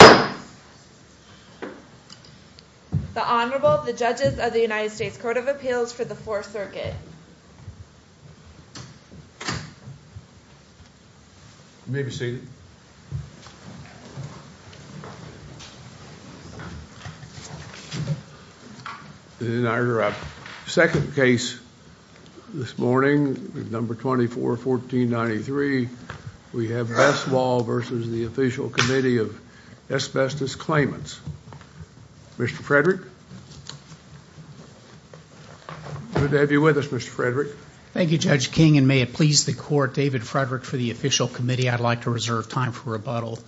The Honorable, the Judges of the United States Court of Appeals for the 4th Circuit. You may be seated. In our second case this morning, number 241493, we have Bestwall v. The Official Committee of Asbestos Claimants. Mr. Frederick, good to have you with us, Mr. Frederick. Thank you, Judge King, and may it please the Court, David Frederick for the Official Committee, I'd like to reserve time for rebuttal.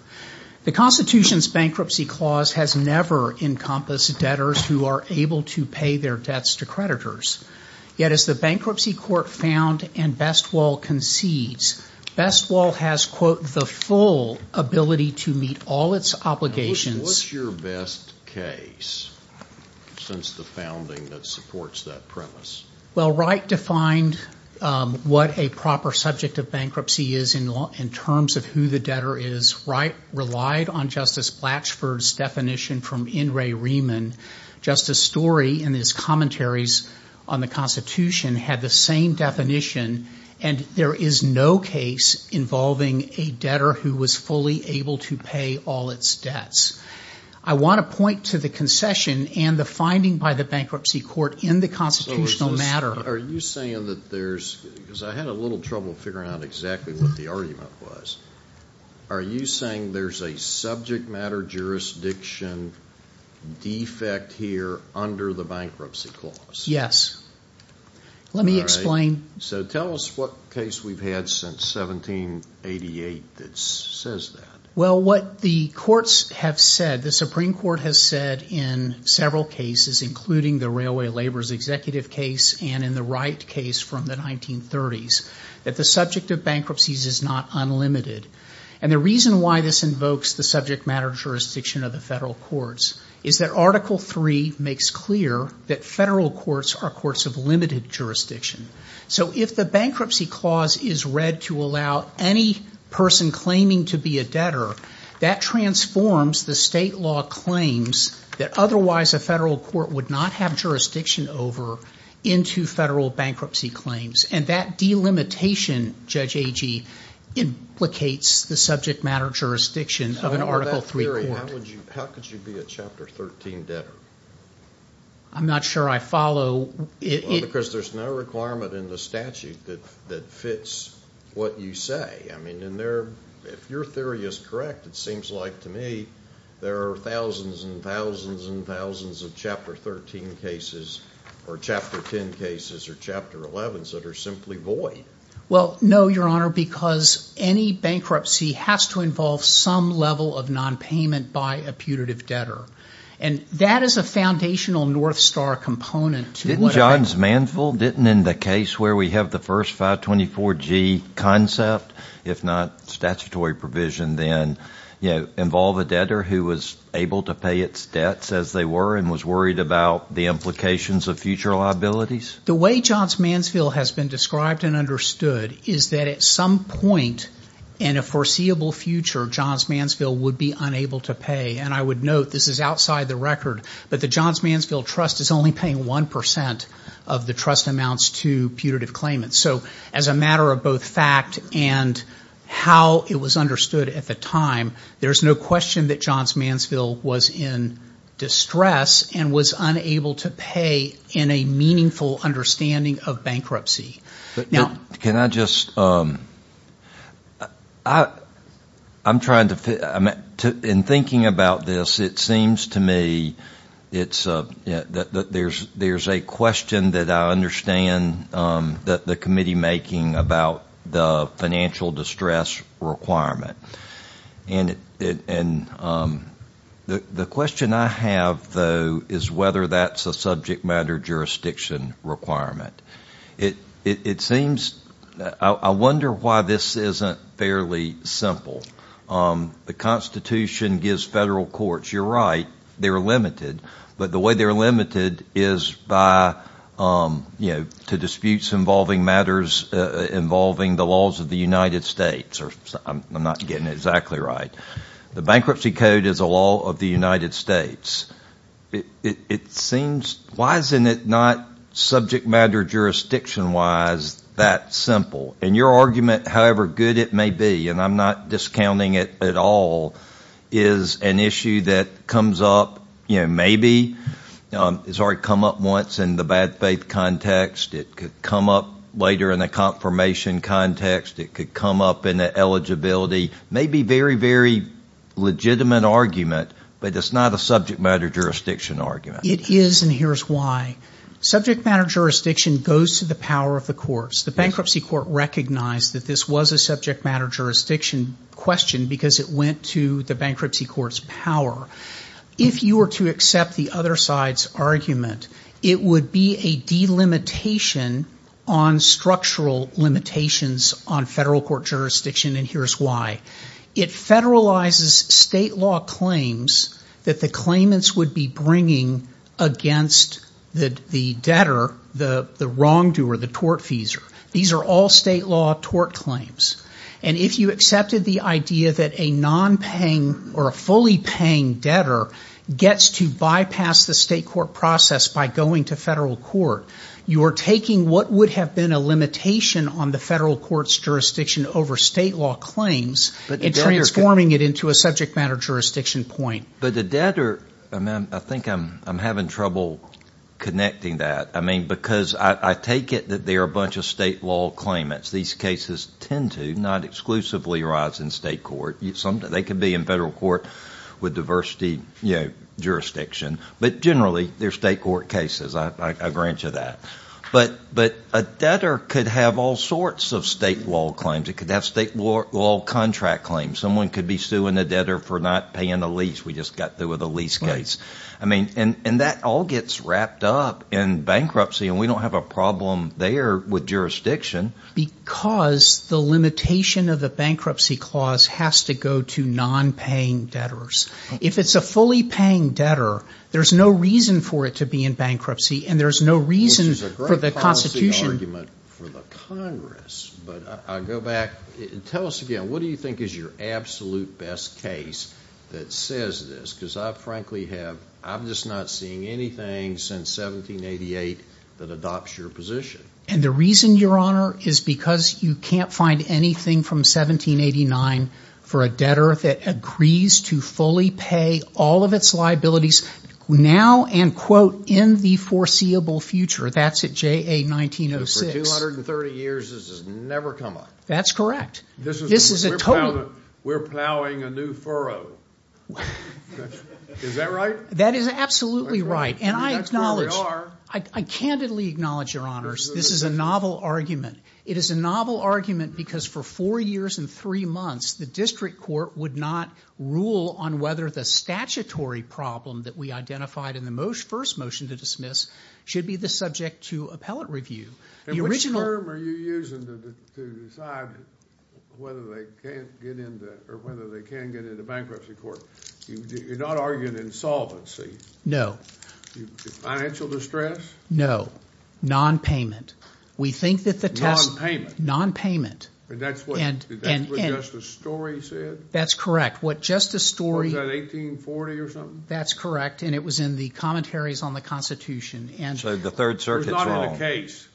The Constitution's Bankruptcy Clause has never encompassed debtors who are able to pay their debts to creditors. Yet as the Bankruptcy Court found and Bestwall concedes, Bestwall has, quote, the full ability to meet all its obligations. What's your best case since the founding that supports that premise? Well, Wright defined what a proper subject of bankruptcy is in terms of who the debtor is. Wright relied on Justice Blatchford's definition from In re Riemann. Justice Story in his commentaries on the Constitution had the same definition, and there is no case involving a debtor who was fully able to pay all its debts. I want to point to the concession and the finding by the Bankruptcy Court in the constitutional matter. Are you saying that there's, because I had a little trouble figuring out exactly what the argument was, are you saying there's a subject matter jurisdiction defect here under the Bankruptcy Clause? Yes. Let me explain. So tell us what case we've had since 1788 that says that. Well, what the courts have said, the Supreme Court has said in several cases, including the Railway Laborers' Executive case and in the Wright case from the 1930s, that the subject of bankruptcies is not unlimited. And the reason why this invokes the subject matter jurisdiction of the federal courts is that Article III makes clear that federal courts are courts of limited jurisdiction. So if the Bankruptcy Clause is read to allow any person claiming to be a debtor, that transforms the state law claims that otherwise a federal court would not have jurisdiction over into federal bankruptcy claims. And that delimitation, Judge Agee, implicates the subject matter jurisdiction of an Article III court. How could you be a Chapter 13 debtor? I'm not sure I follow. Well, because there's no requirement in the statute that fits what you say. I mean, if your theory is correct, it seems like to me there are thousands and thousands and thousands of Chapter 13 cases or Chapter 10 cases or Chapter 11s that are simply void. Well, no, Your Honor, because any bankruptcy has to involve some level of nonpayment by a putative debtor. And that is a foundational North Star component. Didn't Johns Mansville, didn't in the case where we have the first 524G concept, if not statutory provision, then involve a debtor who was able to pay its debts as they were and was worried about the implications of future liabilities? The way Johns Mansville has been described and understood is that at some point in a foreseeable future, Johns Mansville would be unable to pay. And I would note this is outside the record, but the Johns Mansville Trust is only paying 1% of the trust amounts to putative claimants. So as a matter of both fact and how it was understood at the time, there's no question that Johns Mansville was in distress and was unable to pay in a meaningful understanding of bankruptcy. Can I just, I'm trying to, in thinking about this, it seems to me that there's a question that I understand that the committee making about the financial distress requirement. And the question I have, though, is whether that's a subject matter jurisdiction requirement. It seems, I wonder why this isn't fairly simple. The Constitution gives federal courts, you're right, they're limited. But the way they're limited is by, you know, to disputes involving matters involving the laws of the United States. I'm not getting it exactly right. The Bankruptcy Code is a law of the United States. It seems, why isn't it not subject matter jurisdiction-wise that simple? And your argument, however good it may be, and I'm not discounting it at all, is an issue that comes up, you know, maybe. It's already come up once in the bad faith context. It could come up later in the confirmation context. It could come up in the eligibility, maybe very, very legitimate argument, but it's not a subject matter jurisdiction argument. It is, and here's why. Subject matter jurisdiction goes to the power of the courts. The Bankruptcy Court recognized that this was a subject matter jurisdiction question because it went to the Bankruptcy Court's power. If you were to accept the other side's argument, it would be a delimitation on structural limitations on federal court jurisdiction, and here's why. It federalizes state law claims that the claimants would be bringing against the debtor, the wrongdoer, the tortfeasor. These are all state law tort claims. And if you accepted the idea that a nonpaying or a fully paying debtor gets to bypass the state court process by going to federal court, you are taking what would have been a limitation on the federal court's jurisdiction over state law claims and transforming it into a subject matter jurisdiction point. But the debtor, I think I'm having trouble connecting that. I mean, because I take it that they are a bunch of state law claimants. These cases tend to not exclusively arise in state court. They can be in federal court with diversity jurisdiction, but generally they're state court cases. I grant you that. But a debtor could have all sorts of state law claims. It could have state law contract claims. Someone could be suing a debtor for not paying the lease. We just got through with a lease case. And that all gets wrapped up in bankruptcy, and we don't have a problem there with jurisdiction. Because the limitation of the bankruptcy clause has to go to nonpaying debtors. If it's a fully paying debtor, there's no reason for it to be in bankruptcy, and there's no reason for the Constitution. This is a great policy argument for the Congress, but I go back. Tell us again, what do you think is your absolute best case that says this? Because I frankly have – I'm just not seeing anything since 1788 that adopts your position. And the reason, Your Honor, is because you can't find anything from 1789 for a debtor that agrees to fully pay all of its liabilities now and, quote, in the foreseeable future. That's at JA-1906. But for 230 years, this has never come up. That's correct. This is a total – We're plowing a new furrow. Is that right? That is absolutely right. And I acknowledge – I candidly acknowledge, Your Honors, this is a novel argument. It is a novel argument because for four years and three months, the district court would not rule on whether the statutory problem that we identified in the first motion to dismiss should be the subject to appellate review. And which term are you using to decide whether they can't get into – or whether they can get into bankruptcy court? You're not arguing insolvency. No. Financial distress? No. Nonpayment. We think that the test – Nonpayment. Nonpayment. And that's what Justice Story said? That's correct. What Justice Story – Was that 1840 or something? That's correct. And it was in the commentaries on the Constitution. So the Third Circuit's wrong. He did not have a case.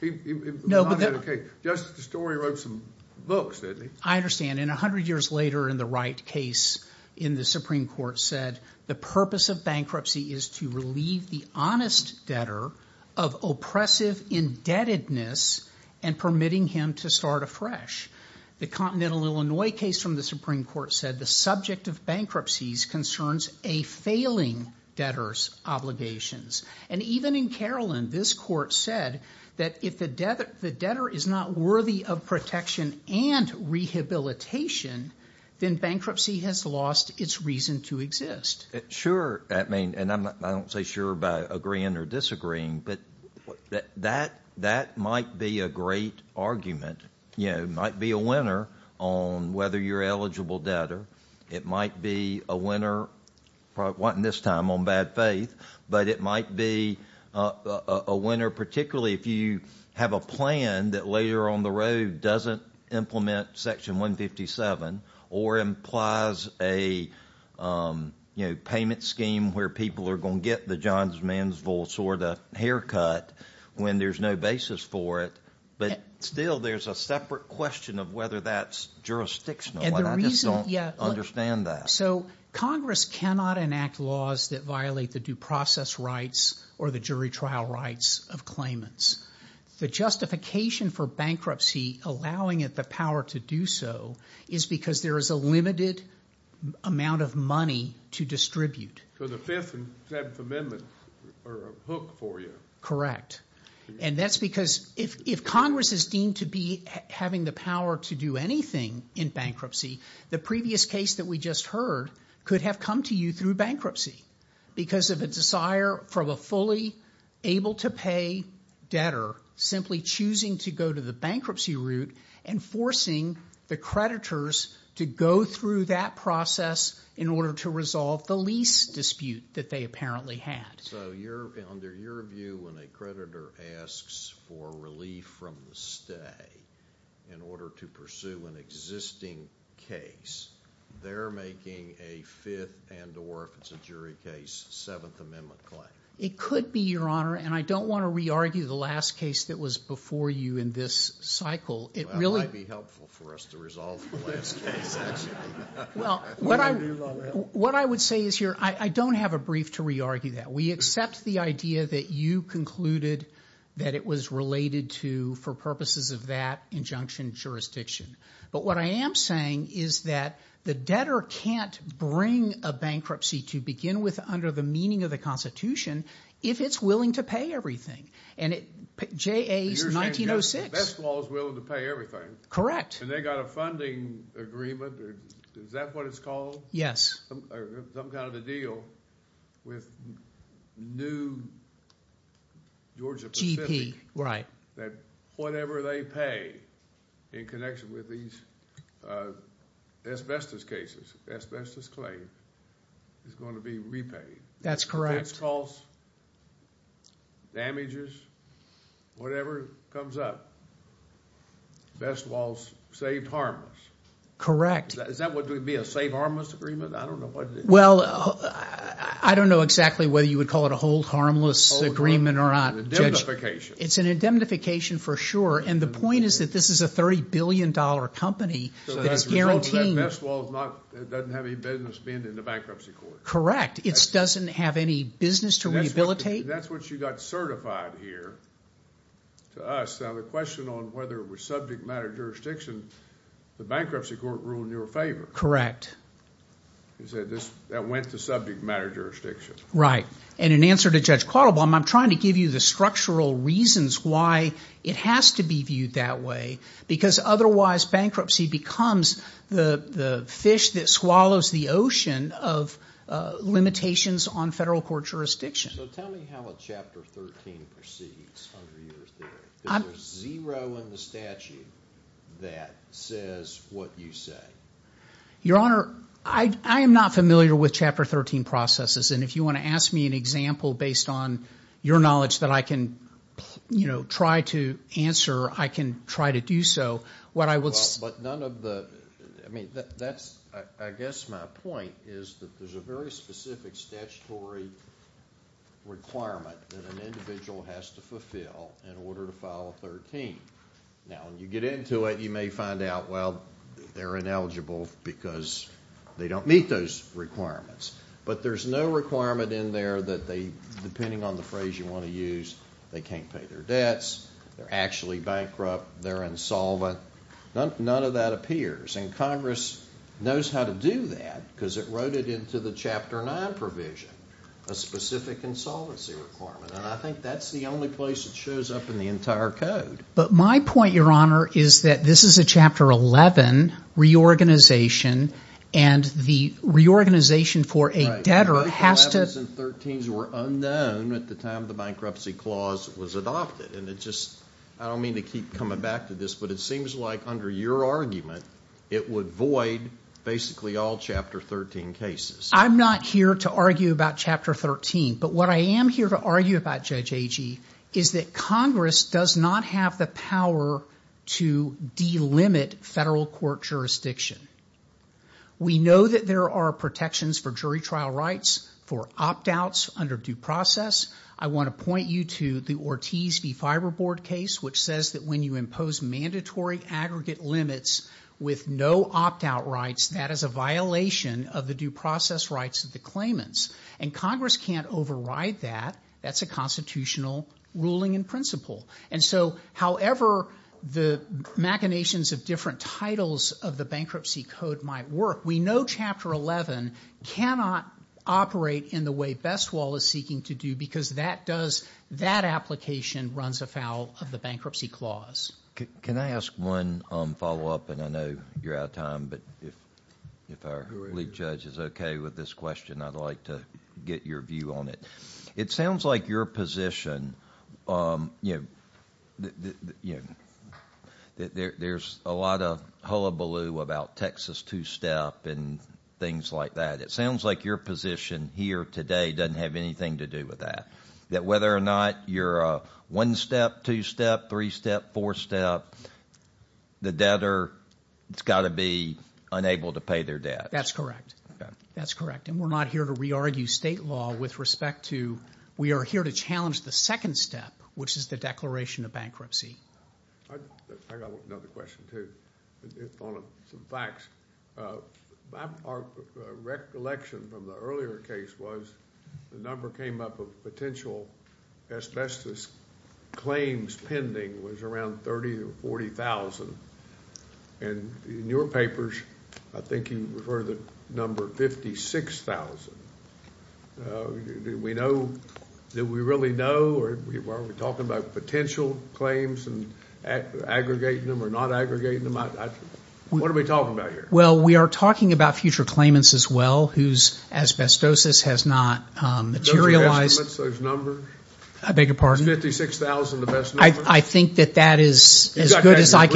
He did not have a case. Justice Story wrote some books, didn't he? I understand. And 100 years later in the Wright case in the Supreme Court said the purpose of bankruptcy is to relieve the honest debtor of oppressive indebtedness and permitting him to start afresh. The Continental Illinois case from the Supreme Court said the subject of bankruptcies concerns a failing debtor's obligations. And even in Carolyn, this court said that if the debtor is not worthy of protection and rehabilitation, then bankruptcy has lost its reason to exist. Sure. I mean, and I don't say sure by agreeing or disagreeing, but that might be a great argument. It might be a winner on whether you're an eligible debtor. It might be a winner, probably not this time, on bad faith, but it might be a winner particularly if you have a plan that later on the road doesn't implement Section 157 or implies a payment scheme where people are going to get the Johns Mansville sort of haircut when there's no basis for it. But still, there's a separate question of whether that's jurisdictional. I just don't understand that. So Congress cannot enact laws that violate the due process rights or the jury trial rights of claimants. The justification for bankruptcy allowing it the power to do so is because there is a limited amount of money to distribute. So the Fifth and Seventh Amendments are a hook for you. Correct. And that's because if Congress is deemed to be having the power to do anything in bankruptcy, the previous case that we just heard could have come to you through bankruptcy because of a desire from a fully able-to-pay debtor simply choosing to go to the bankruptcy route and forcing the creditors to go through that process in order to resolve the lease dispute that they apparently had. So under your view, when a creditor asks for relief from the stay in order to pursue an existing case, they're making a Fifth and or, if it's a jury case, Seventh Amendment claim. It could be, Your Honor, and I don't want to re-argue the last case that was before you in this cycle. It might be helpful for us to resolve the last case. Well, what I would say is here, I don't have a brief to re-argue that. We accept the idea that you concluded that it was related to, for purposes of that injunction, jurisdiction. But what I am saying is that the debtor can't bring a bankruptcy to begin with under the meaning of the Constitution if it's willing to pay everything. And J.A.'s 1906. Best Law is willing to pay everything. Correct. And they got a funding agreement. Is that what it's called? Some kind of a deal with New Georgia Pacific. That whatever they pay in connection with these asbestos cases, asbestos claims, is going to be repaid. That's correct. Tax costs, damages, whatever comes up. Best Law is safe harmless. Is that what would be a safe harmless agreement? I don't know what it is. Well, I don't know exactly whether you would call it a hold harmless agreement or not. It's an indemnification. It's an indemnification for sure. And the point is that this is a $30 billion company that is guaranteeing. Best Law doesn't have any business being in the bankruptcy court. Correct. It doesn't have any business to rehabilitate. That's what you got certified here to us. Now the question on whether it was subject matter jurisdiction, the bankruptcy court ruled in your favor. Correct. That went to subject matter jurisdiction. Right. And in answer to Judge Quattlebaum, I'm trying to give you the structural reasons why it has to be viewed that way. Because otherwise bankruptcy becomes the fish that swallows the ocean of limitations on federal court jurisdiction. So tell me how a Chapter 13 proceeds under your theory. There's zero in the statute that says what you say. Your Honor, I am not familiar with Chapter 13 processes. And if you want to ask me an example based on your knowledge that I can, you know, try to answer, I can try to do so. But none of the, I mean, that's, I guess my point is that there's a very specific statutory requirement that an individual has to fulfill in order to file a 13. Now when you get into it, you may find out, well, they're ineligible because they don't meet those requirements. But there's no requirement in there that they, depending on the phrase you want to use, they can't pay their debts. They're actually bankrupt. They're insolvent. None of that appears. And Congress knows how to do that because it wrote it into the Chapter 9 provision, a specific insolvency requirement. And I think that's the only place it shows up in the entire code. But my point, Your Honor, is that this is a Chapter 11 reorganization. And the reorganization for a debtor has to – Right, but those 11s and 13s were unknown at the time the bankruptcy clause was adopted. And it just, I don't mean to keep coming back to this, but it seems like under your argument it would void basically all Chapter 13 cases. I'm not here to argue about Chapter 13. But what I am here to argue about, Judge Agee, is that Congress does not have the power to delimit federal court jurisdiction. We know that there are protections for jury trial rights, for opt-outs under due process. I want to point you to the Ortiz v. Fiberboard case, which says that when you impose mandatory aggregate limits with no opt-out rights, that is a violation of the due process rights of the claimants. And Congress can't override that. That's a constitutional ruling in principle. And so however the machinations of different titles of the bankruptcy code might work, we know Chapter 11 cannot operate in the way Bestwal is seeking to do because that does – that application runs afoul of the bankruptcy clause. Can I ask one follow-up? And I know you're out of time, but if our lead judge is okay with this question, I'd like to get your view on it. It sounds like your position – there's a lot of hullabaloo about Texas two-step and things like that. It sounds like your position here today doesn't have anything to do with that, that whether or not you're a one-step, two-step, three-step, four-step, the debtor has got to be unable to pay their debts. That's correct. That's correct. And we're not here to re-argue state law with respect to – we are here to challenge the second step, which is the declaration of bankruptcy. I've got another question too on some facts. Our recollection from the earlier case was the number came up of potential asbestos claims pending was around 30,000 to 40,000. And in your papers, I think you refer to the number 56,000. Do we really know, or are we talking about potential claims and aggregating them or not aggregating them? What are we talking about here? Well, we are talking about future claimants as well whose asbestosis has not materialized. Those estimates, those numbers? I beg your pardon? Is 56,000 the best number? I think that that is as good as I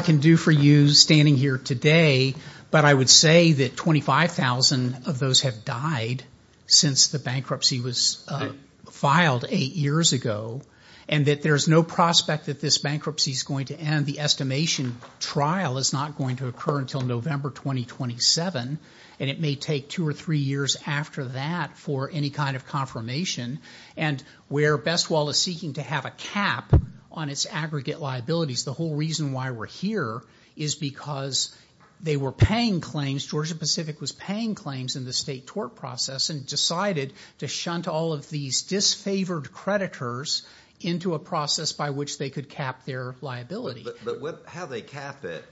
can do for you standing here today, but I would say that 25,000 of those have died since the bankruptcy was filed eight years ago and that there is no prospect that this bankruptcy is going to end. The estimation trial is not going to occur until November 2027, and it may take two or three years after that for any kind of confirmation. And where BestWall is seeking to have a cap on its aggregate liabilities, the whole reason why we're here is because they were paying claims, Georgia Pacific was paying claims in the state tort process and decided to shunt all of these disfavored creditors into a process by which they could cap their liability. But how they cap it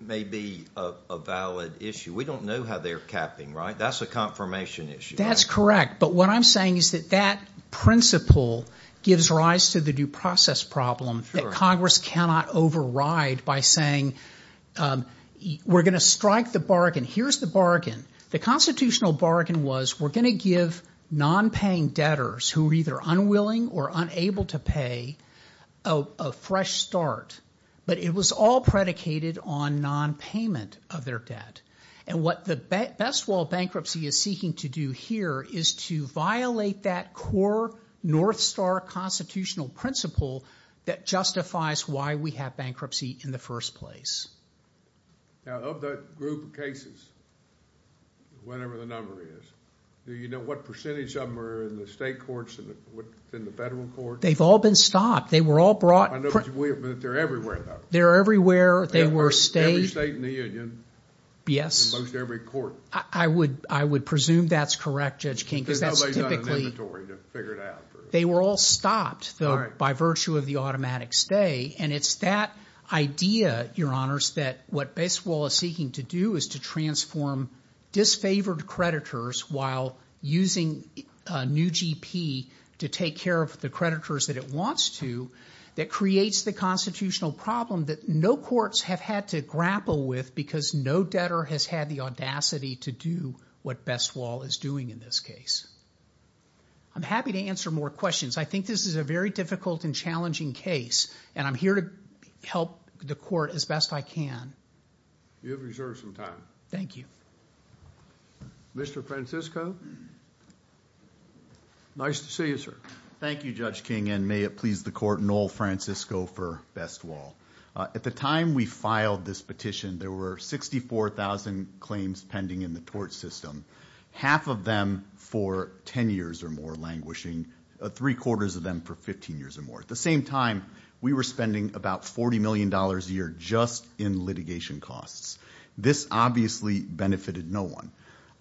may be a valid issue. We don't know how they're capping, right? That's a confirmation issue. That's correct. But what I'm saying is that that principle gives rise to the due process problem that Congress cannot override by saying, we're going to strike the bargain. Here's the bargain. The constitutional bargain was we're going to give nonpaying debtors who are either unwilling or unable to pay a fresh start, but it was all predicated on nonpayment of their debt. And what the BestWall bankruptcy is seeking to do here is to violate that core North Star constitutional principle that justifies why we have bankruptcy in the first place. Now, of that group of cases, whatever the number is, do you know what percentage of them are in the state courts and within the federal courts? They've all been stopped. They were all brought. I know, but they're everywhere, though. They're everywhere. Every state in the union. Yes. In most every court. I would presume that's correct, Judge King. Because nobody's got an inventory to figure it out. They were all stopped, though, by virtue of the automatic stay. And it's that idea, Your Honors, that what BestWall is seeking to do is to transform disfavored creditors while using a new GP to take care of the creditors that it wants to, that creates the constitutional problem that no courts have had to grapple with because no debtor has had the audacity to do what BestWall is doing in this case. I'm happy to answer more questions. I think this is a very difficult and challenging case, and I'm here to help the court as best I can. You have reserved some time. Thank you. Mr. Francisco? Nice to see you, sir. Thank you, Judge King, and may it please the court, Noel Francisco for BestWall. At the time we filed this petition, there were 64,000 claims pending in the tort system, half of them for 10 years or more languishing, three-quarters of them for 15 years or more. At the same time, we were spending about $40 million a year just in litigation costs. This obviously benefited no one.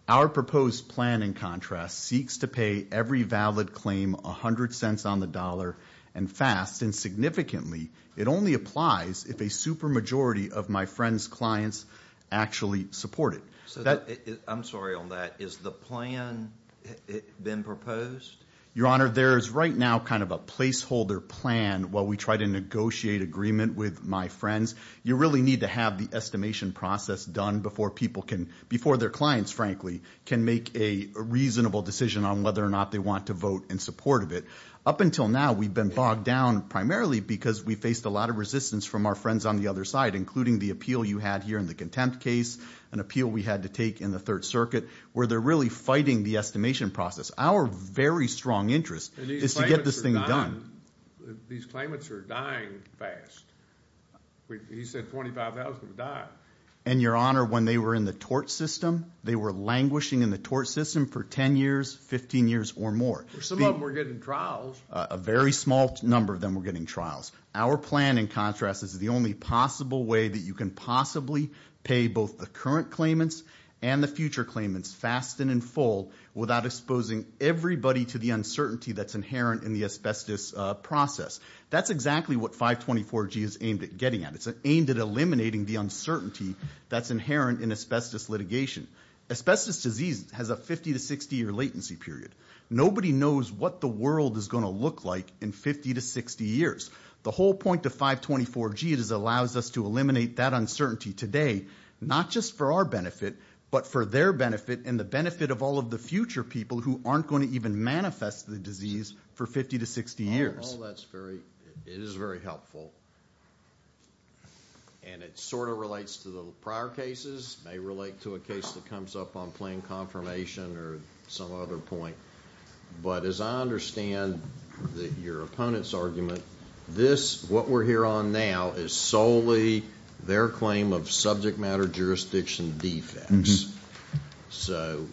Our proposed plan, in contrast, seeks to pay every valid claim 100 cents on the dollar and fast, and significantly it only applies if a supermajority of my friend's clients actually support it. I'm sorry on that. Has the plan been proposed? Your Honor, there is right now kind of a placeholder plan while we try to negotiate agreement with my friends. You really need to have the estimation process done before people can, before their clients, frankly, can make a reasonable decision on whether or not they want to vote in support of it. Up until now, we've been bogged down primarily because we faced a lot of resistance from our friends on the other side, including the appeal you had here in the contempt case, an appeal we had to take in the Third Circuit, where they're really fighting the estimation process. Our very strong interest is to get this thing done. These claimants are dying fast. He said 25,000 would die. And, Your Honor, when they were in the tort system, they were languishing in the tort system for 10 years, 15 years, or more. Some of them were getting trials. A very small number of them were getting trials. Our plan, in contrast, is the only possible way that you can possibly pay both the current claimants and the future claimants fast and in full without exposing everybody to the uncertainty that's inherent in the asbestos process. That's exactly what 524G is aimed at getting at. It's aimed at eliminating the uncertainty that's inherent in asbestos litigation. Asbestos disease has a 50 to 60-year latency period. Nobody knows what the world is going to look like in 50 to 60 years. The whole point of 524G is it allows us to eliminate that uncertainty today, not just for our benefit, but for their benefit and the benefit of all of the future people who aren't going to even manifest the disease for 50 to 60 years. Well, that's very, it is very helpful. And it sort of relates to the prior cases, may relate to a case that comes up on plain confirmation or some other point. But as I understand your opponent's argument, this, what we're here on now, is solely their claim of subject matter jurisdiction defects. So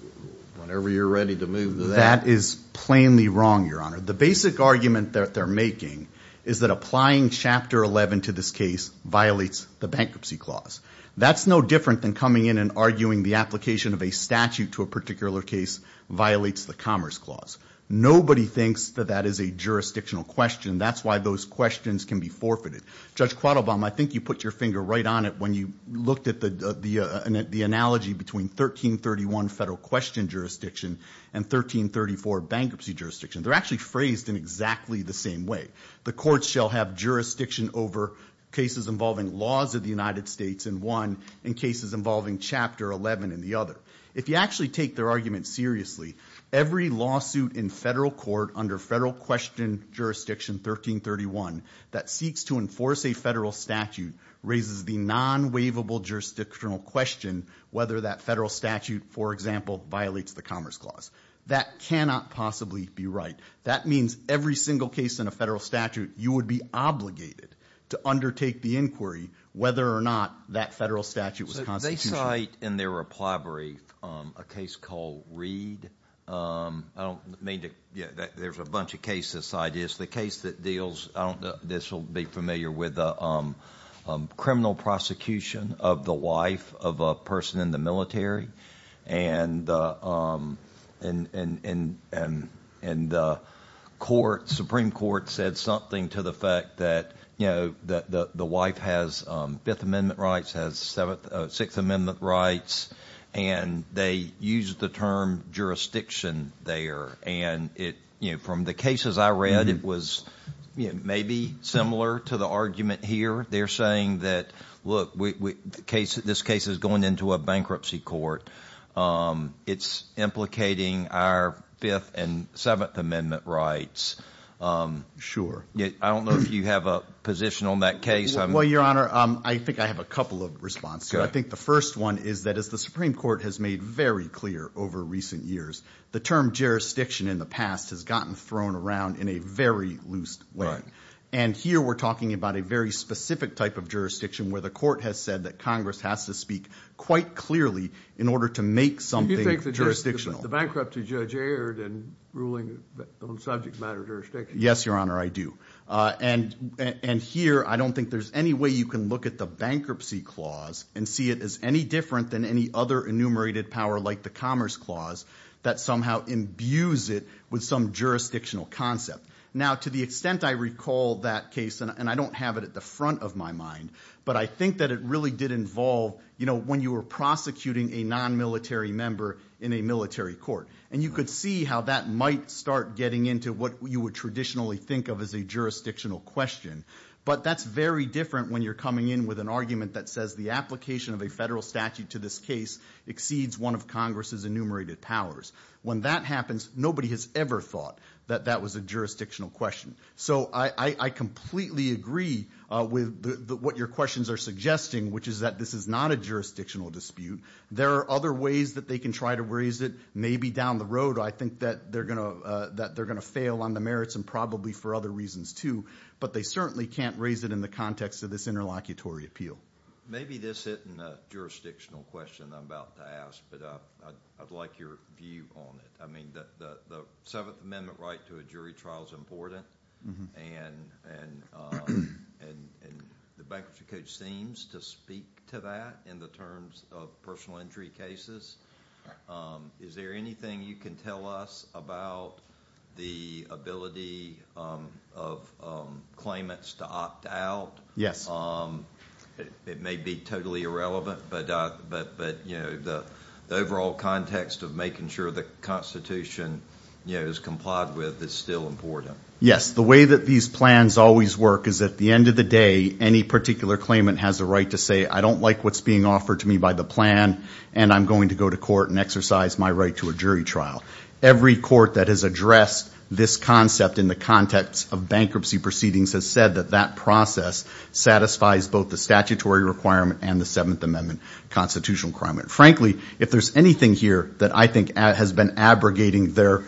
whenever you're ready to move to that. That is plainly wrong, Your Honor. The basic argument that they're making is that applying Chapter 11 to this case violates the bankruptcy clause. That's no different than coming in and arguing the application of a statute to a particular case violates the commerce clause. Nobody thinks that that is a jurisdictional question. That's why those questions can be forfeited. Judge Quattlebaum, I think you put your finger right on it when you looked at the analogy between 1331 federal question jurisdiction and 1334 bankruptcy jurisdiction. They're actually phrased in exactly the same way. The court shall have jurisdiction over cases involving laws of the United States in one and cases involving Chapter 11 in the other. If you actually take their argument seriously, every lawsuit in federal court under federal question jurisdiction 1331 that seeks to enforce a federal statute. Raises the non-waivable jurisdictional question whether that federal statute, for example, violates the commerce clause. That cannot possibly be right. That means every single case in a federal statute, you would be obligated to undertake the inquiry whether or not that federal statute was constitutional. They cite in their reply brief a case called Reed. There's a bunch of cases cited. It's the case that deals, this will be familiar with, criminal prosecution of the wife of a person in the military. The Supreme Court said something to the fact that the wife has Fifth Amendment rights, has Sixth Amendment rights. They used the term jurisdiction there. From the cases I read, it was maybe similar to the argument here. They're saying that, look, this case is going into a bankruptcy court. It's implicating our Fifth and Seventh Amendment rights. Sure. I don't know if you have a position on that case. Well, Your Honor, I think I have a couple of responses. I think the first one is that as the Supreme Court has made very clear over recent years, the term jurisdiction in the past has gotten thrown around in a very loose way. And here we're talking about a very specific type of jurisdiction where the court has said that Congress has to speak quite clearly in order to make something jurisdictional. Do you think the bankruptcy judge erred in ruling on subject matter jurisdiction? Yes, Your Honor, I do. And here I don't think there's any way you can look at the bankruptcy clause and see it as any different than any other enumerated power like the commerce clause that somehow imbues it with some jurisdictional concept. Now, to the extent I recall that case, and I don't have it at the front of my mind, but I think that it really did involve, you know, when you were prosecuting a non-military member in a military court. And you could see how that might start getting into what you would traditionally think of as a jurisdictional question. But that's very different when you're coming in with an argument that says the application of a federal statute to this case exceeds one of Congress's enumerated powers. When that happens, nobody has ever thought that that was a jurisdictional question. So I completely agree with what your questions are suggesting, which is that this is not a jurisdictional dispute. There are other ways that they can try to raise it, maybe down the road. I think that they're going to fail on the merits and probably for other reasons too. But they certainly can't raise it in the context of this interlocutory appeal. Maybe this isn't a jurisdictional question I'm about to ask, but I'd like your view on it. I mean, the Seventh Amendment right to a jury trial is important, and the Bankruptcy Code seems to speak to that in the terms of personal injury cases. Is there anything you can tell us about the ability of claimants to opt out? It may be totally irrelevant, but the overall context of making sure the Constitution is complied with is still important. Yes. The way that these plans always work is at the end of the day, any particular claimant has a right to say, I don't like what's being offered to me by the plan, and I'm going to go to court and exercise my right to a jury trial. Every court that has addressed this concept in the context of bankruptcy proceedings has said that that process satisfies both the statutory requirement and the Seventh Amendment constitutional requirement. Frankly, if there's anything here that I think has been abrogating their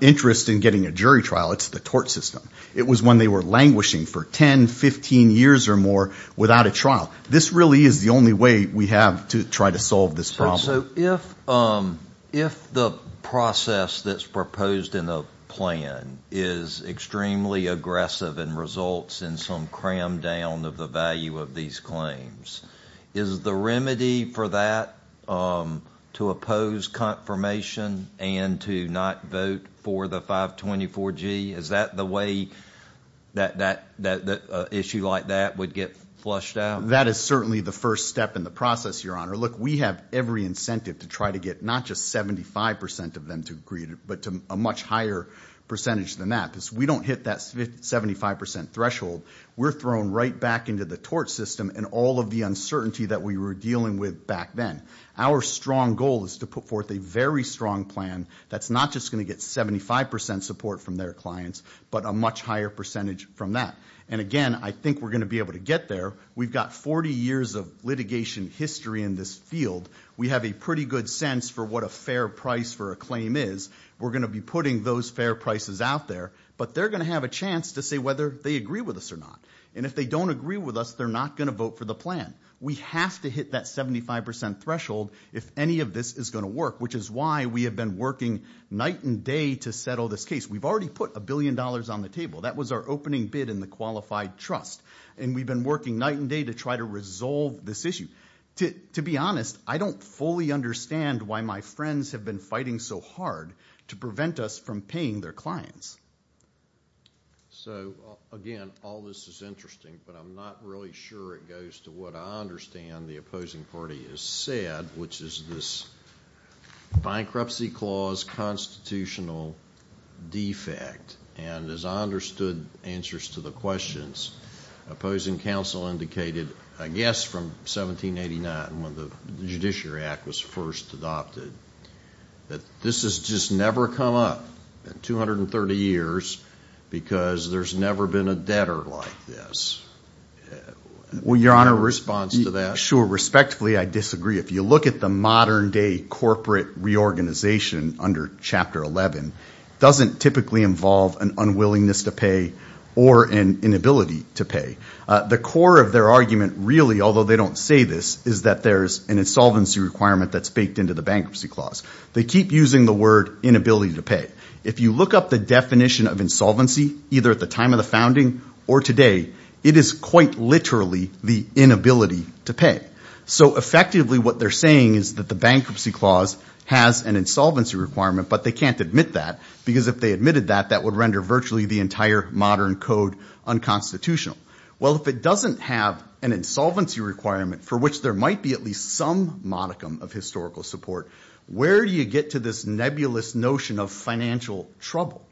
interest in getting a jury trial, it's the tort system. It was when they were languishing for 10, 15 years or more without a trial. This really is the only way we have to try to solve this problem. So if the process that's proposed in the plan is extremely aggressive and results in some cram down of the value of these claims, is the remedy for that to oppose confirmation and to not vote for the 524G? Is that the way that an issue like that would get flushed out? That is certainly the first step in the process, Your Honor. Look, we have every incentive to try to get not just 75% of them to agree, but to a much higher percentage than that. Because we don't hit that 75% threshold. We're thrown right back into the tort system and all of the uncertainty that we were dealing with back then. Our strong goal is to put forth a very strong plan that's not just going to get 75% support from their clients, but a much higher percentage from that. And again, I think we're going to be able to get there. We've got 40 years of litigation history in this field. We have a pretty good sense for what a fair price for a claim is. We're going to be putting those fair prices out there. But they're going to have a chance to say whether they agree with us or not. And if they don't agree with us, they're not going to vote for the plan. We have to hit that 75% threshold if any of this is going to work, which is why we have been working night and day to settle this case. We've already put a billion dollars on the table. That was our opening bid in the qualified trust. And we've been working night and day to try to resolve this issue. To be honest, I don't fully understand why my friends have been fighting so hard to prevent us from paying their clients. So, again, all this is interesting, but I'm not really sure it goes to what I understand the opposing party has said, which is this bankruptcy clause constitutional defect. And as I understood answers to the questions, opposing counsel indicated, I guess from 1789 when the Judiciary Act was first adopted, that this has just never come up in 230 years because there's never been a debtor like this. Your Honor, a response to that? Sure. Respectfully, I disagree. If you look at the modern-day corporate reorganization under Chapter 11, it doesn't typically involve an unwillingness to pay or an inability to pay. The core of their argument really, although they don't say this, is that there's an insolvency requirement that's baked into the bankruptcy clause. They keep using the word inability to pay. If you look up the definition of insolvency, either at the time of the founding or today, it is quite literally the inability to pay. So, effectively, what they're saying is that the bankruptcy clause has an insolvency requirement, but they can't admit that, because if they admitted that, that would render virtually the entire modern code unconstitutional. Well, if it doesn't have an insolvency requirement for which there might be at least some modicum of historical support, where do you get to this nebulous notion of financial trouble?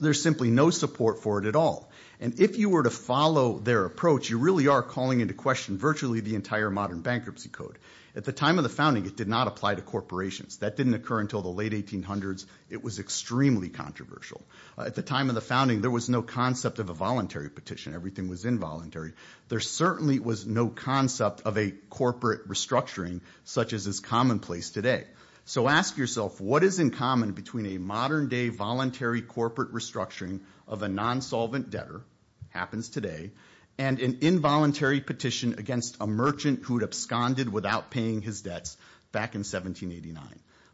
There's simply no support for it at all. And if you were to follow their approach, you really are calling into question virtually the entire modern bankruptcy code. At the time of the founding, it did not apply to corporations. That didn't occur until the late 1800s. It was extremely controversial. At the time of the founding, there was no concept of a voluntary petition. Everything was involuntary. There certainly was no concept of a corporate restructuring such as is commonplace today. So ask yourself, what is in common between a modern-day voluntary corporate restructuring of a non-solvent debtor, happens today, and an involuntary petition against a merchant who had absconded without paying his debts back in 1789?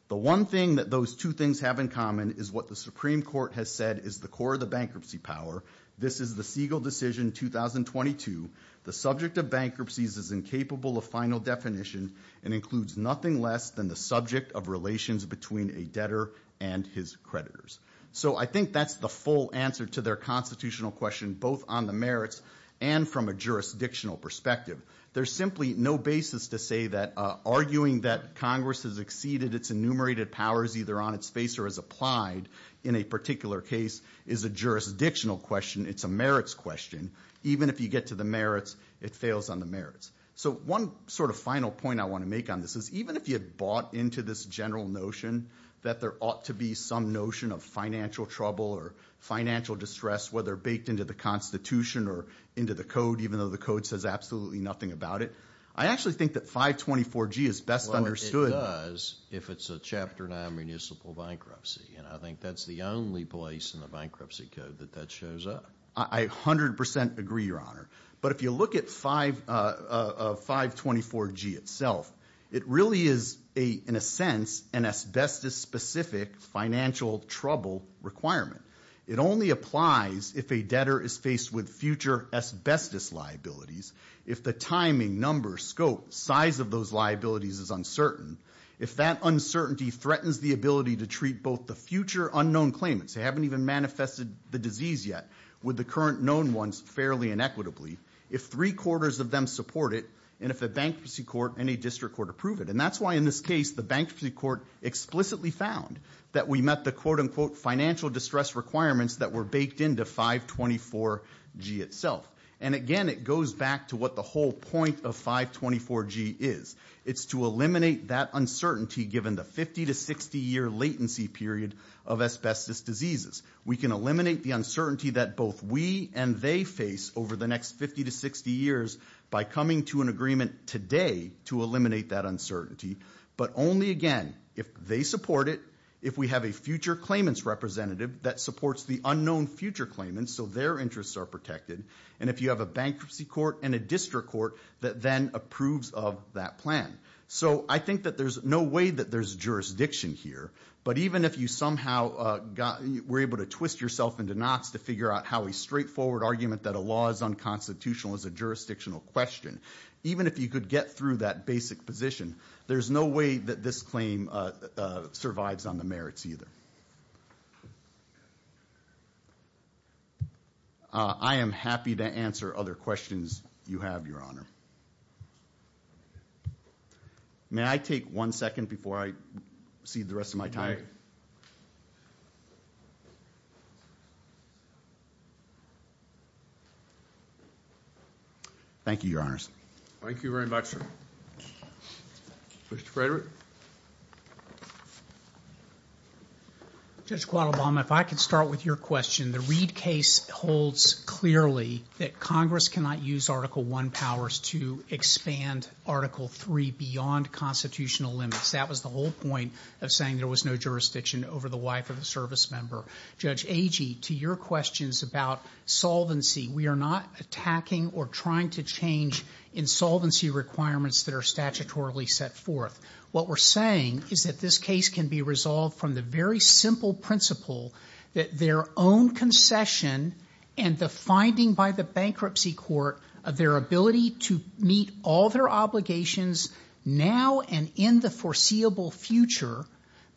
The one thing that those two things have in common is what the Supreme Court has said is the core of the bankruptcy power. This is the Siegel decision, 2022. The subject of bankruptcies is incapable of final definition and includes nothing less than the subject of relations between a debtor and his creditors. So I think that's the full answer to their constitutional question, both on the merits and from a jurisdictional perspective. There's simply no basis to say that arguing that Congress has exceeded its enumerated powers either on its face or as applied in a particular case is a jurisdictional question. It's a merits question. Even if you get to the merits, it fails on the merits. So one sort of final point I want to make on this is even if you had bought into this general notion that there ought to be some notion of financial trouble or financial distress, whether baked into the Constitution or into the code, even though the code says absolutely nothing about it, I actually think that 524G is best understood. Well, it does if it's a Chapter 9 municipal bankruptcy. And I think that's the only place in the bankruptcy code that that shows up. I 100% agree, Your Honor. But if you look at 524G itself, it really is, in a sense, an asbestos-specific financial trouble requirement. It only applies if a debtor is faced with future asbestos liabilities. If the timing, number, scope, size of those liabilities is uncertain, if that uncertainty threatens the ability to treat both the future unknown claimants, who haven't even manifested the disease yet, with the current known ones fairly and equitably, if three-quarters of them support it, and if a bankruptcy court and a district court approve it. And that's why in this case the bankruptcy court explicitly found that we met the quote-unquote financial distress requirements that were baked into 524G itself. And again, it goes back to what the whole point of 524G is. It's to eliminate that uncertainty given the 50 to 60-year latency period of asbestos diseases. We can eliminate the uncertainty that both we and they face over the next 50 to 60 years by coming to an agreement today to eliminate that uncertainty. But only, again, if they support it, if we have a future claimants representative that supports the unknown future claimants so their interests are protected, and if you have a bankruptcy court and a district court that then approves of that plan. So I think that there's no way that there's jurisdiction here. But even if you somehow were able to twist yourself into knots to figure out how a straightforward argument that a law is unconstitutional is a jurisdictional question, even if you could get through that basic position, there's no way that this claim survives on the merits either. Thank you. I am happy to answer other questions you have, Your Honor. May I take one second before I cede the rest of my time? Thank you, Your Honors. Thank you very much, sir. Mr. Frederick? Judge Guadalbama, if I could start with your question. The Reed case holds clearly that Congress cannot use Article I powers to expand Article III beyond constitutional limits. That was the whole point of saying there was no jurisdiction over the wife of a service member. Judge Agee, to your questions about solvency, we are not attacking or trying to change insolvency requirements that are statutorily set forth. What we're saying is that this case can be resolved from the very simple principle that their own concession and the finding by the bankruptcy court of their ability to meet all their obligations now and in the foreseeable future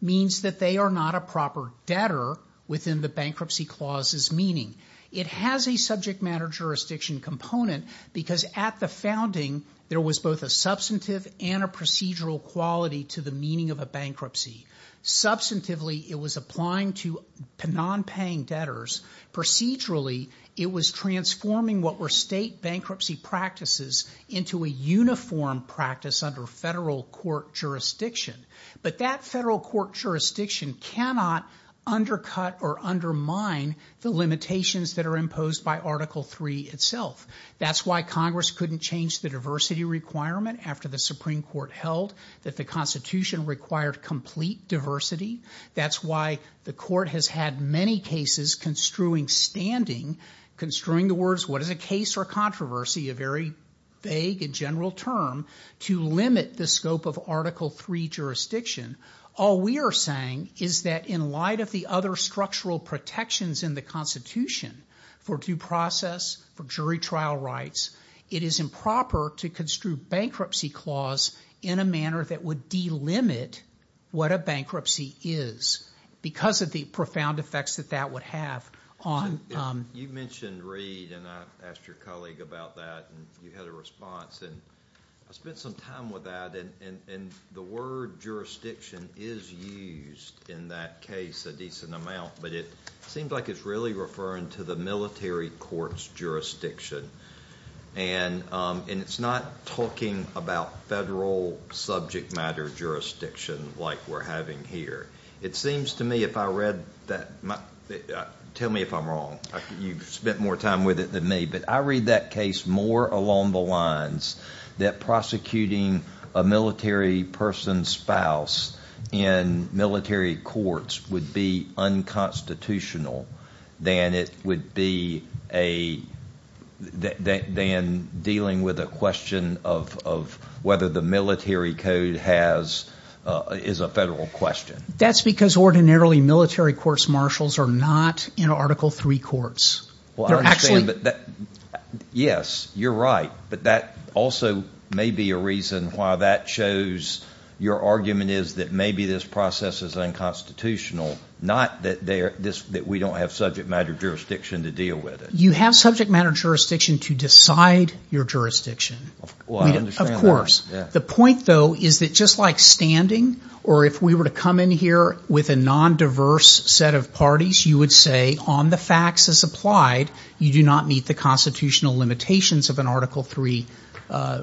means that they are not a proper debtor within the bankruptcy clause's meaning. It has a subject matter jurisdiction component because at the founding, there was both a substantive and a procedural quality to the meaning of a bankruptcy. Substantively, it was applying to nonpaying debtors. Procedurally, it was transforming what were state bankruptcy practices into a uniform practice under federal court jurisdiction. But that federal court jurisdiction cannot undercut or undermine the limitations that are imposed by Article III itself. That's why Congress couldn't change the diversity requirement after the Supreme Court held that the Constitution required complete diversity. That's why the court has had many cases construing standing, construing the words what is a case or controversy, a very vague and general term, to limit the scope of Article III jurisdiction. All we are saying is that in light of the other structural protections in the Constitution for due process, for jury trial rights, it is improper to construe bankruptcy clause in a manner that would delimit what a bankruptcy is because of the profound effects that that would have on... You mentioned Reid and I asked your colleague about that and you had a response. I spent some time with that and the word jurisdiction is used in that case a decent amount, but it seems like it's really referring to the military court's jurisdiction. And it's not talking about federal subject matter jurisdiction like we're having here. It seems to me if I read that... Tell me if I'm wrong. You've spent more time with it than me, but I read that case more along the lines that prosecuting a military person's spouse in military courts would be unconstitutional than it would be a – than dealing with a question of whether the military code has – is a federal question. That's because ordinarily military courts marshals are not in Article III courts. Well, I understand, but that – yes, you're right, but that also may be a reason why that shows your argument is that maybe this process is unconstitutional, not that we don't have subject matter jurisdiction to deal with it. You have subject matter jurisdiction to decide your jurisdiction. Well, I understand that. The point, though, is that just like standing or if we were to come in here with a nondiverse set of parties, you would say on the facts as applied, you do not meet the constitutional limitations of an Article III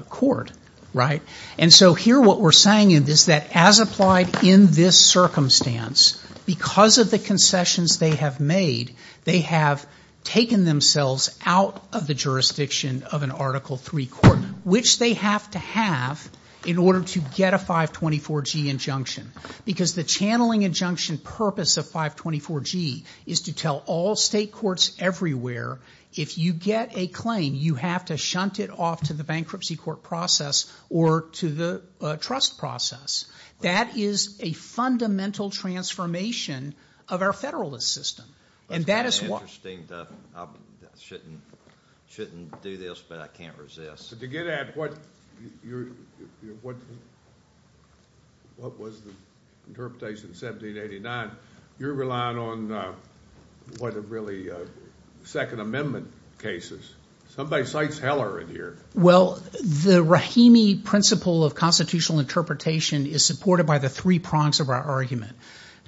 court, right? And so here what we're saying is that as applied in this circumstance, because of the concessions they have made, they have taken themselves out of the jurisdiction of an Article III court, which they have to have in order to get a 524G injunction. Because the channeling injunction purpose of 524G is to tell all state courts everywhere if you get a claim, you have to shunt it off to the bankruptcy court process or to the trust process. That is a fundamental transformation of our federalist system. And that is why – I shouldn't do this, but I can't resist. But to get at what was the interpretation of 1789, you're relying on what are really Second Amendment cases. Somebody cites Heller in here. Well, the Rahimi principle of constitutional interpretation is supported by the three prongs of our argument.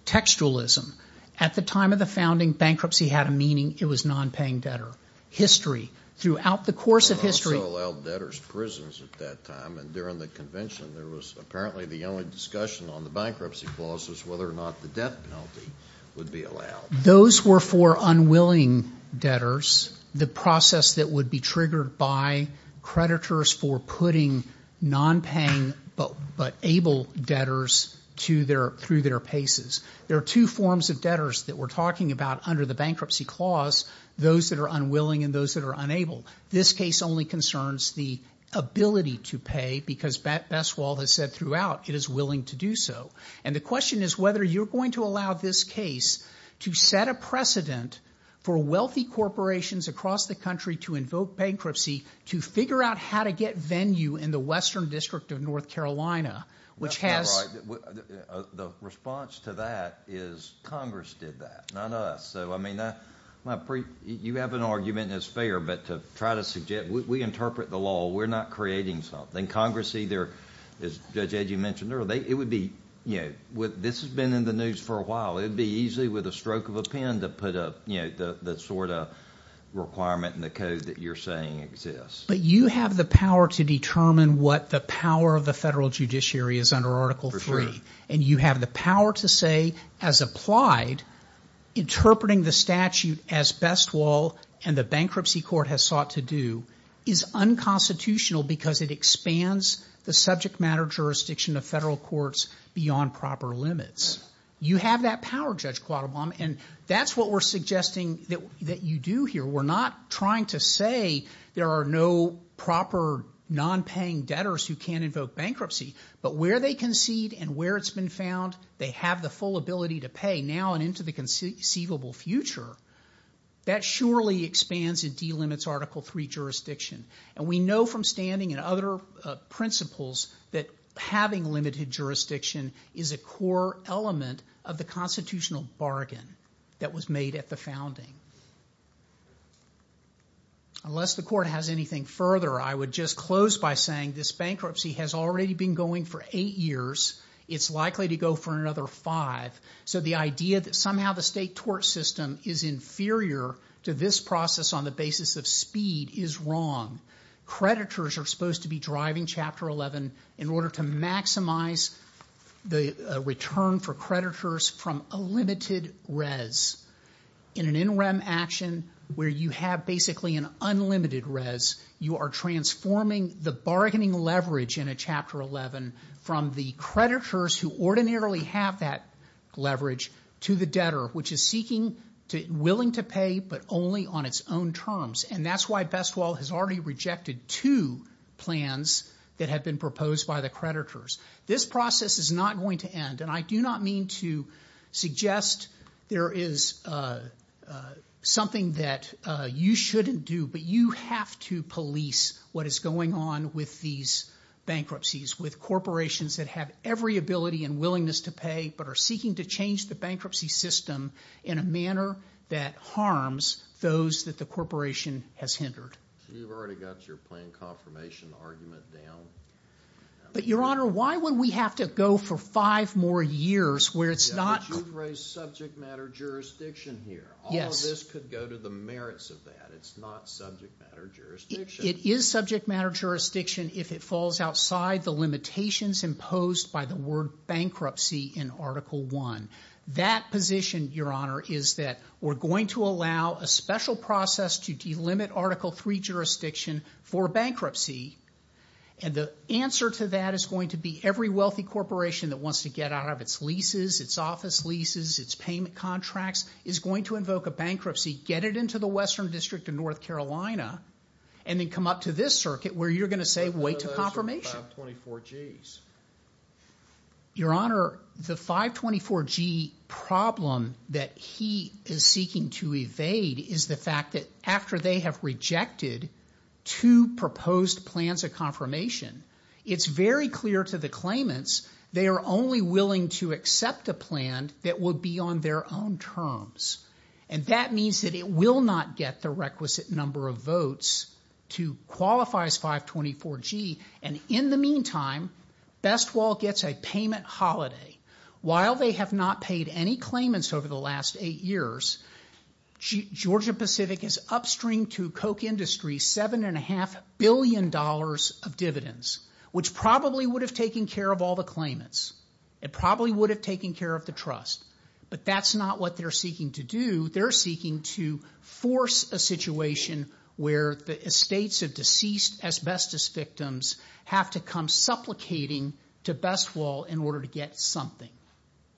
Textualism. At the time of the founding, bankruptcy had a meaning. It was non-paying debtor. History. Throughout the course of history. It also allowed debtors prisons at that time. And during the convention, there was apparently the only discussion on the bankruptcy clause was whether or not the death penalty would be allowed. Those were for unwilling debtors. The process that would be triggered by creditors for putting non-paying but able debtors through their paces. There are two forms of debtors that we're talking about under the bankruptcy clause. Those that are unwilling and those that are unable. This case only concerns the ability to pay because Bestwald has said throughout it is willing to do so. And the question is whether you're going to allow this case to set a precedent for wealthy corporations across the country to invoke bankruptcy, to figure out how to get venue in the Western District of North Carolina, which has – Congress did that, not us. So, I mean, you have an argument that's fair, but to try to suggest – we interpret the law. We're not creating something. Congress either, as Judge Edgey mentioned earlier, it would be – this has been in the news for a while. It would be easy with a stroke of a pen to put up the sort of requirement in the code that you're saying exists. But you have the power to determine what the power of the federal judiciary is under Article III. For sure. And you have the power to say as applied interpreting the statute as Bestwald and the bankruptcy court has sought to do is unconstitutional because it expands the subject matter jurisdiction of federal courts beyond proper limits. You have that power, Judge Quattlebaum, and that's what we're suggesting that you do here. We're not trying to say there are no proper nonpaying debtors who can't invoke bankruptcy. But where they concede and where it's been found, they have the full ability to pay now and into the conceivable future. That surely expands and delimits Article III jurisdiction. And we know from standing and other principles that having limited jurisdiction is a core element of the constitutional bargain that was made at the founding. Unless the court has anything further, I would just close by saying this bankruptcy has already been going for eight years. It's likely to go for another five. So the idea that somehow the state tort system is inferior to this process on the basis of speed is wrong. Creditors are supposed to be driving Chapter 11 in order to maximize the return for creditors from a limited res. In an interim action where you have basically an unlimited res, you are transforming the bargaining leverage in a Chapter 11 from the creditors who ordinarily have that leverage to the debtor, which is seeking, willing to pay, but only on its own terms. And that's why Bestwell has already rejected two plans that have been proposed by the creditors. This process is not going to end, and I do not mean to suggest there is something that you shouldn't do, but you have to police what is going on with these bankruptcies with corporations that have every ability and willingness to pay, but are seeking to change the bankruptcy system in a manner that harms those that the corporation has hindered. You've already got your plan confirmation argument down. But, Your Honor, why would we have to go for five more years where it's not- But you've raised subject matter jurisdiction here. Yes. All of this could go to the merits of that. It's not subject matter jurisdiction. It is subject matter jurisdiction if it falls outside the limitations imposed by the word bankruptcy in Article I. That position, Your Honor, is that we're going to allow a special process to delimit Article III jurisdiction for bankruptcy, and the answer to that is going to be every wealthy corporation that wants to get out of its leases, its office leases, its payment contracts, is going to invoke a bankruptcy, get it into the Western District of North Carolina, and then come up to this circuit where you're going to say, wait till confirmation. What about those 524Gs? Your Honor, the 524G problem that he is seeking to evade is the fact that after they have rejected two proposed plans of confirmation, it's very clear to the claimants they are only willing to accept a plan that would be on their own terms. And that means that it will not get the requisite number of votes to qualify as 524G, and in the meantime, BestWall gets a payment holiday. While they have not paid any claimants over the last eight years, Georgia Pacific is upstream to Koch Industries $7.5 billion of dividends, which probably would have taken care of all the claimants. It probably would have taken care of the trust. But that's not what they're seeking to do. They're seeking to force a situation where the estates of deceased asbestos victims have to come supplicating to BestWall in order to get something,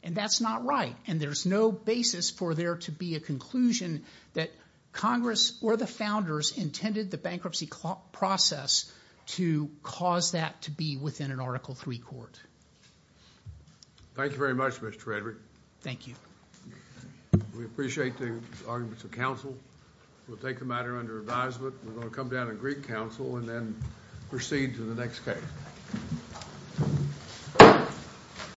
and that's not right, and there's no basis for there to be a conclusion that Congress or the founders intended the bankruptcy process to cause that to be within an Article III court. Thank you very much, Mr. Frederick. Thank you. We appreciate the arguments of counsel. We'll take the matter under advisement. We're going to come down to Greek counsel and then proceed to the next case.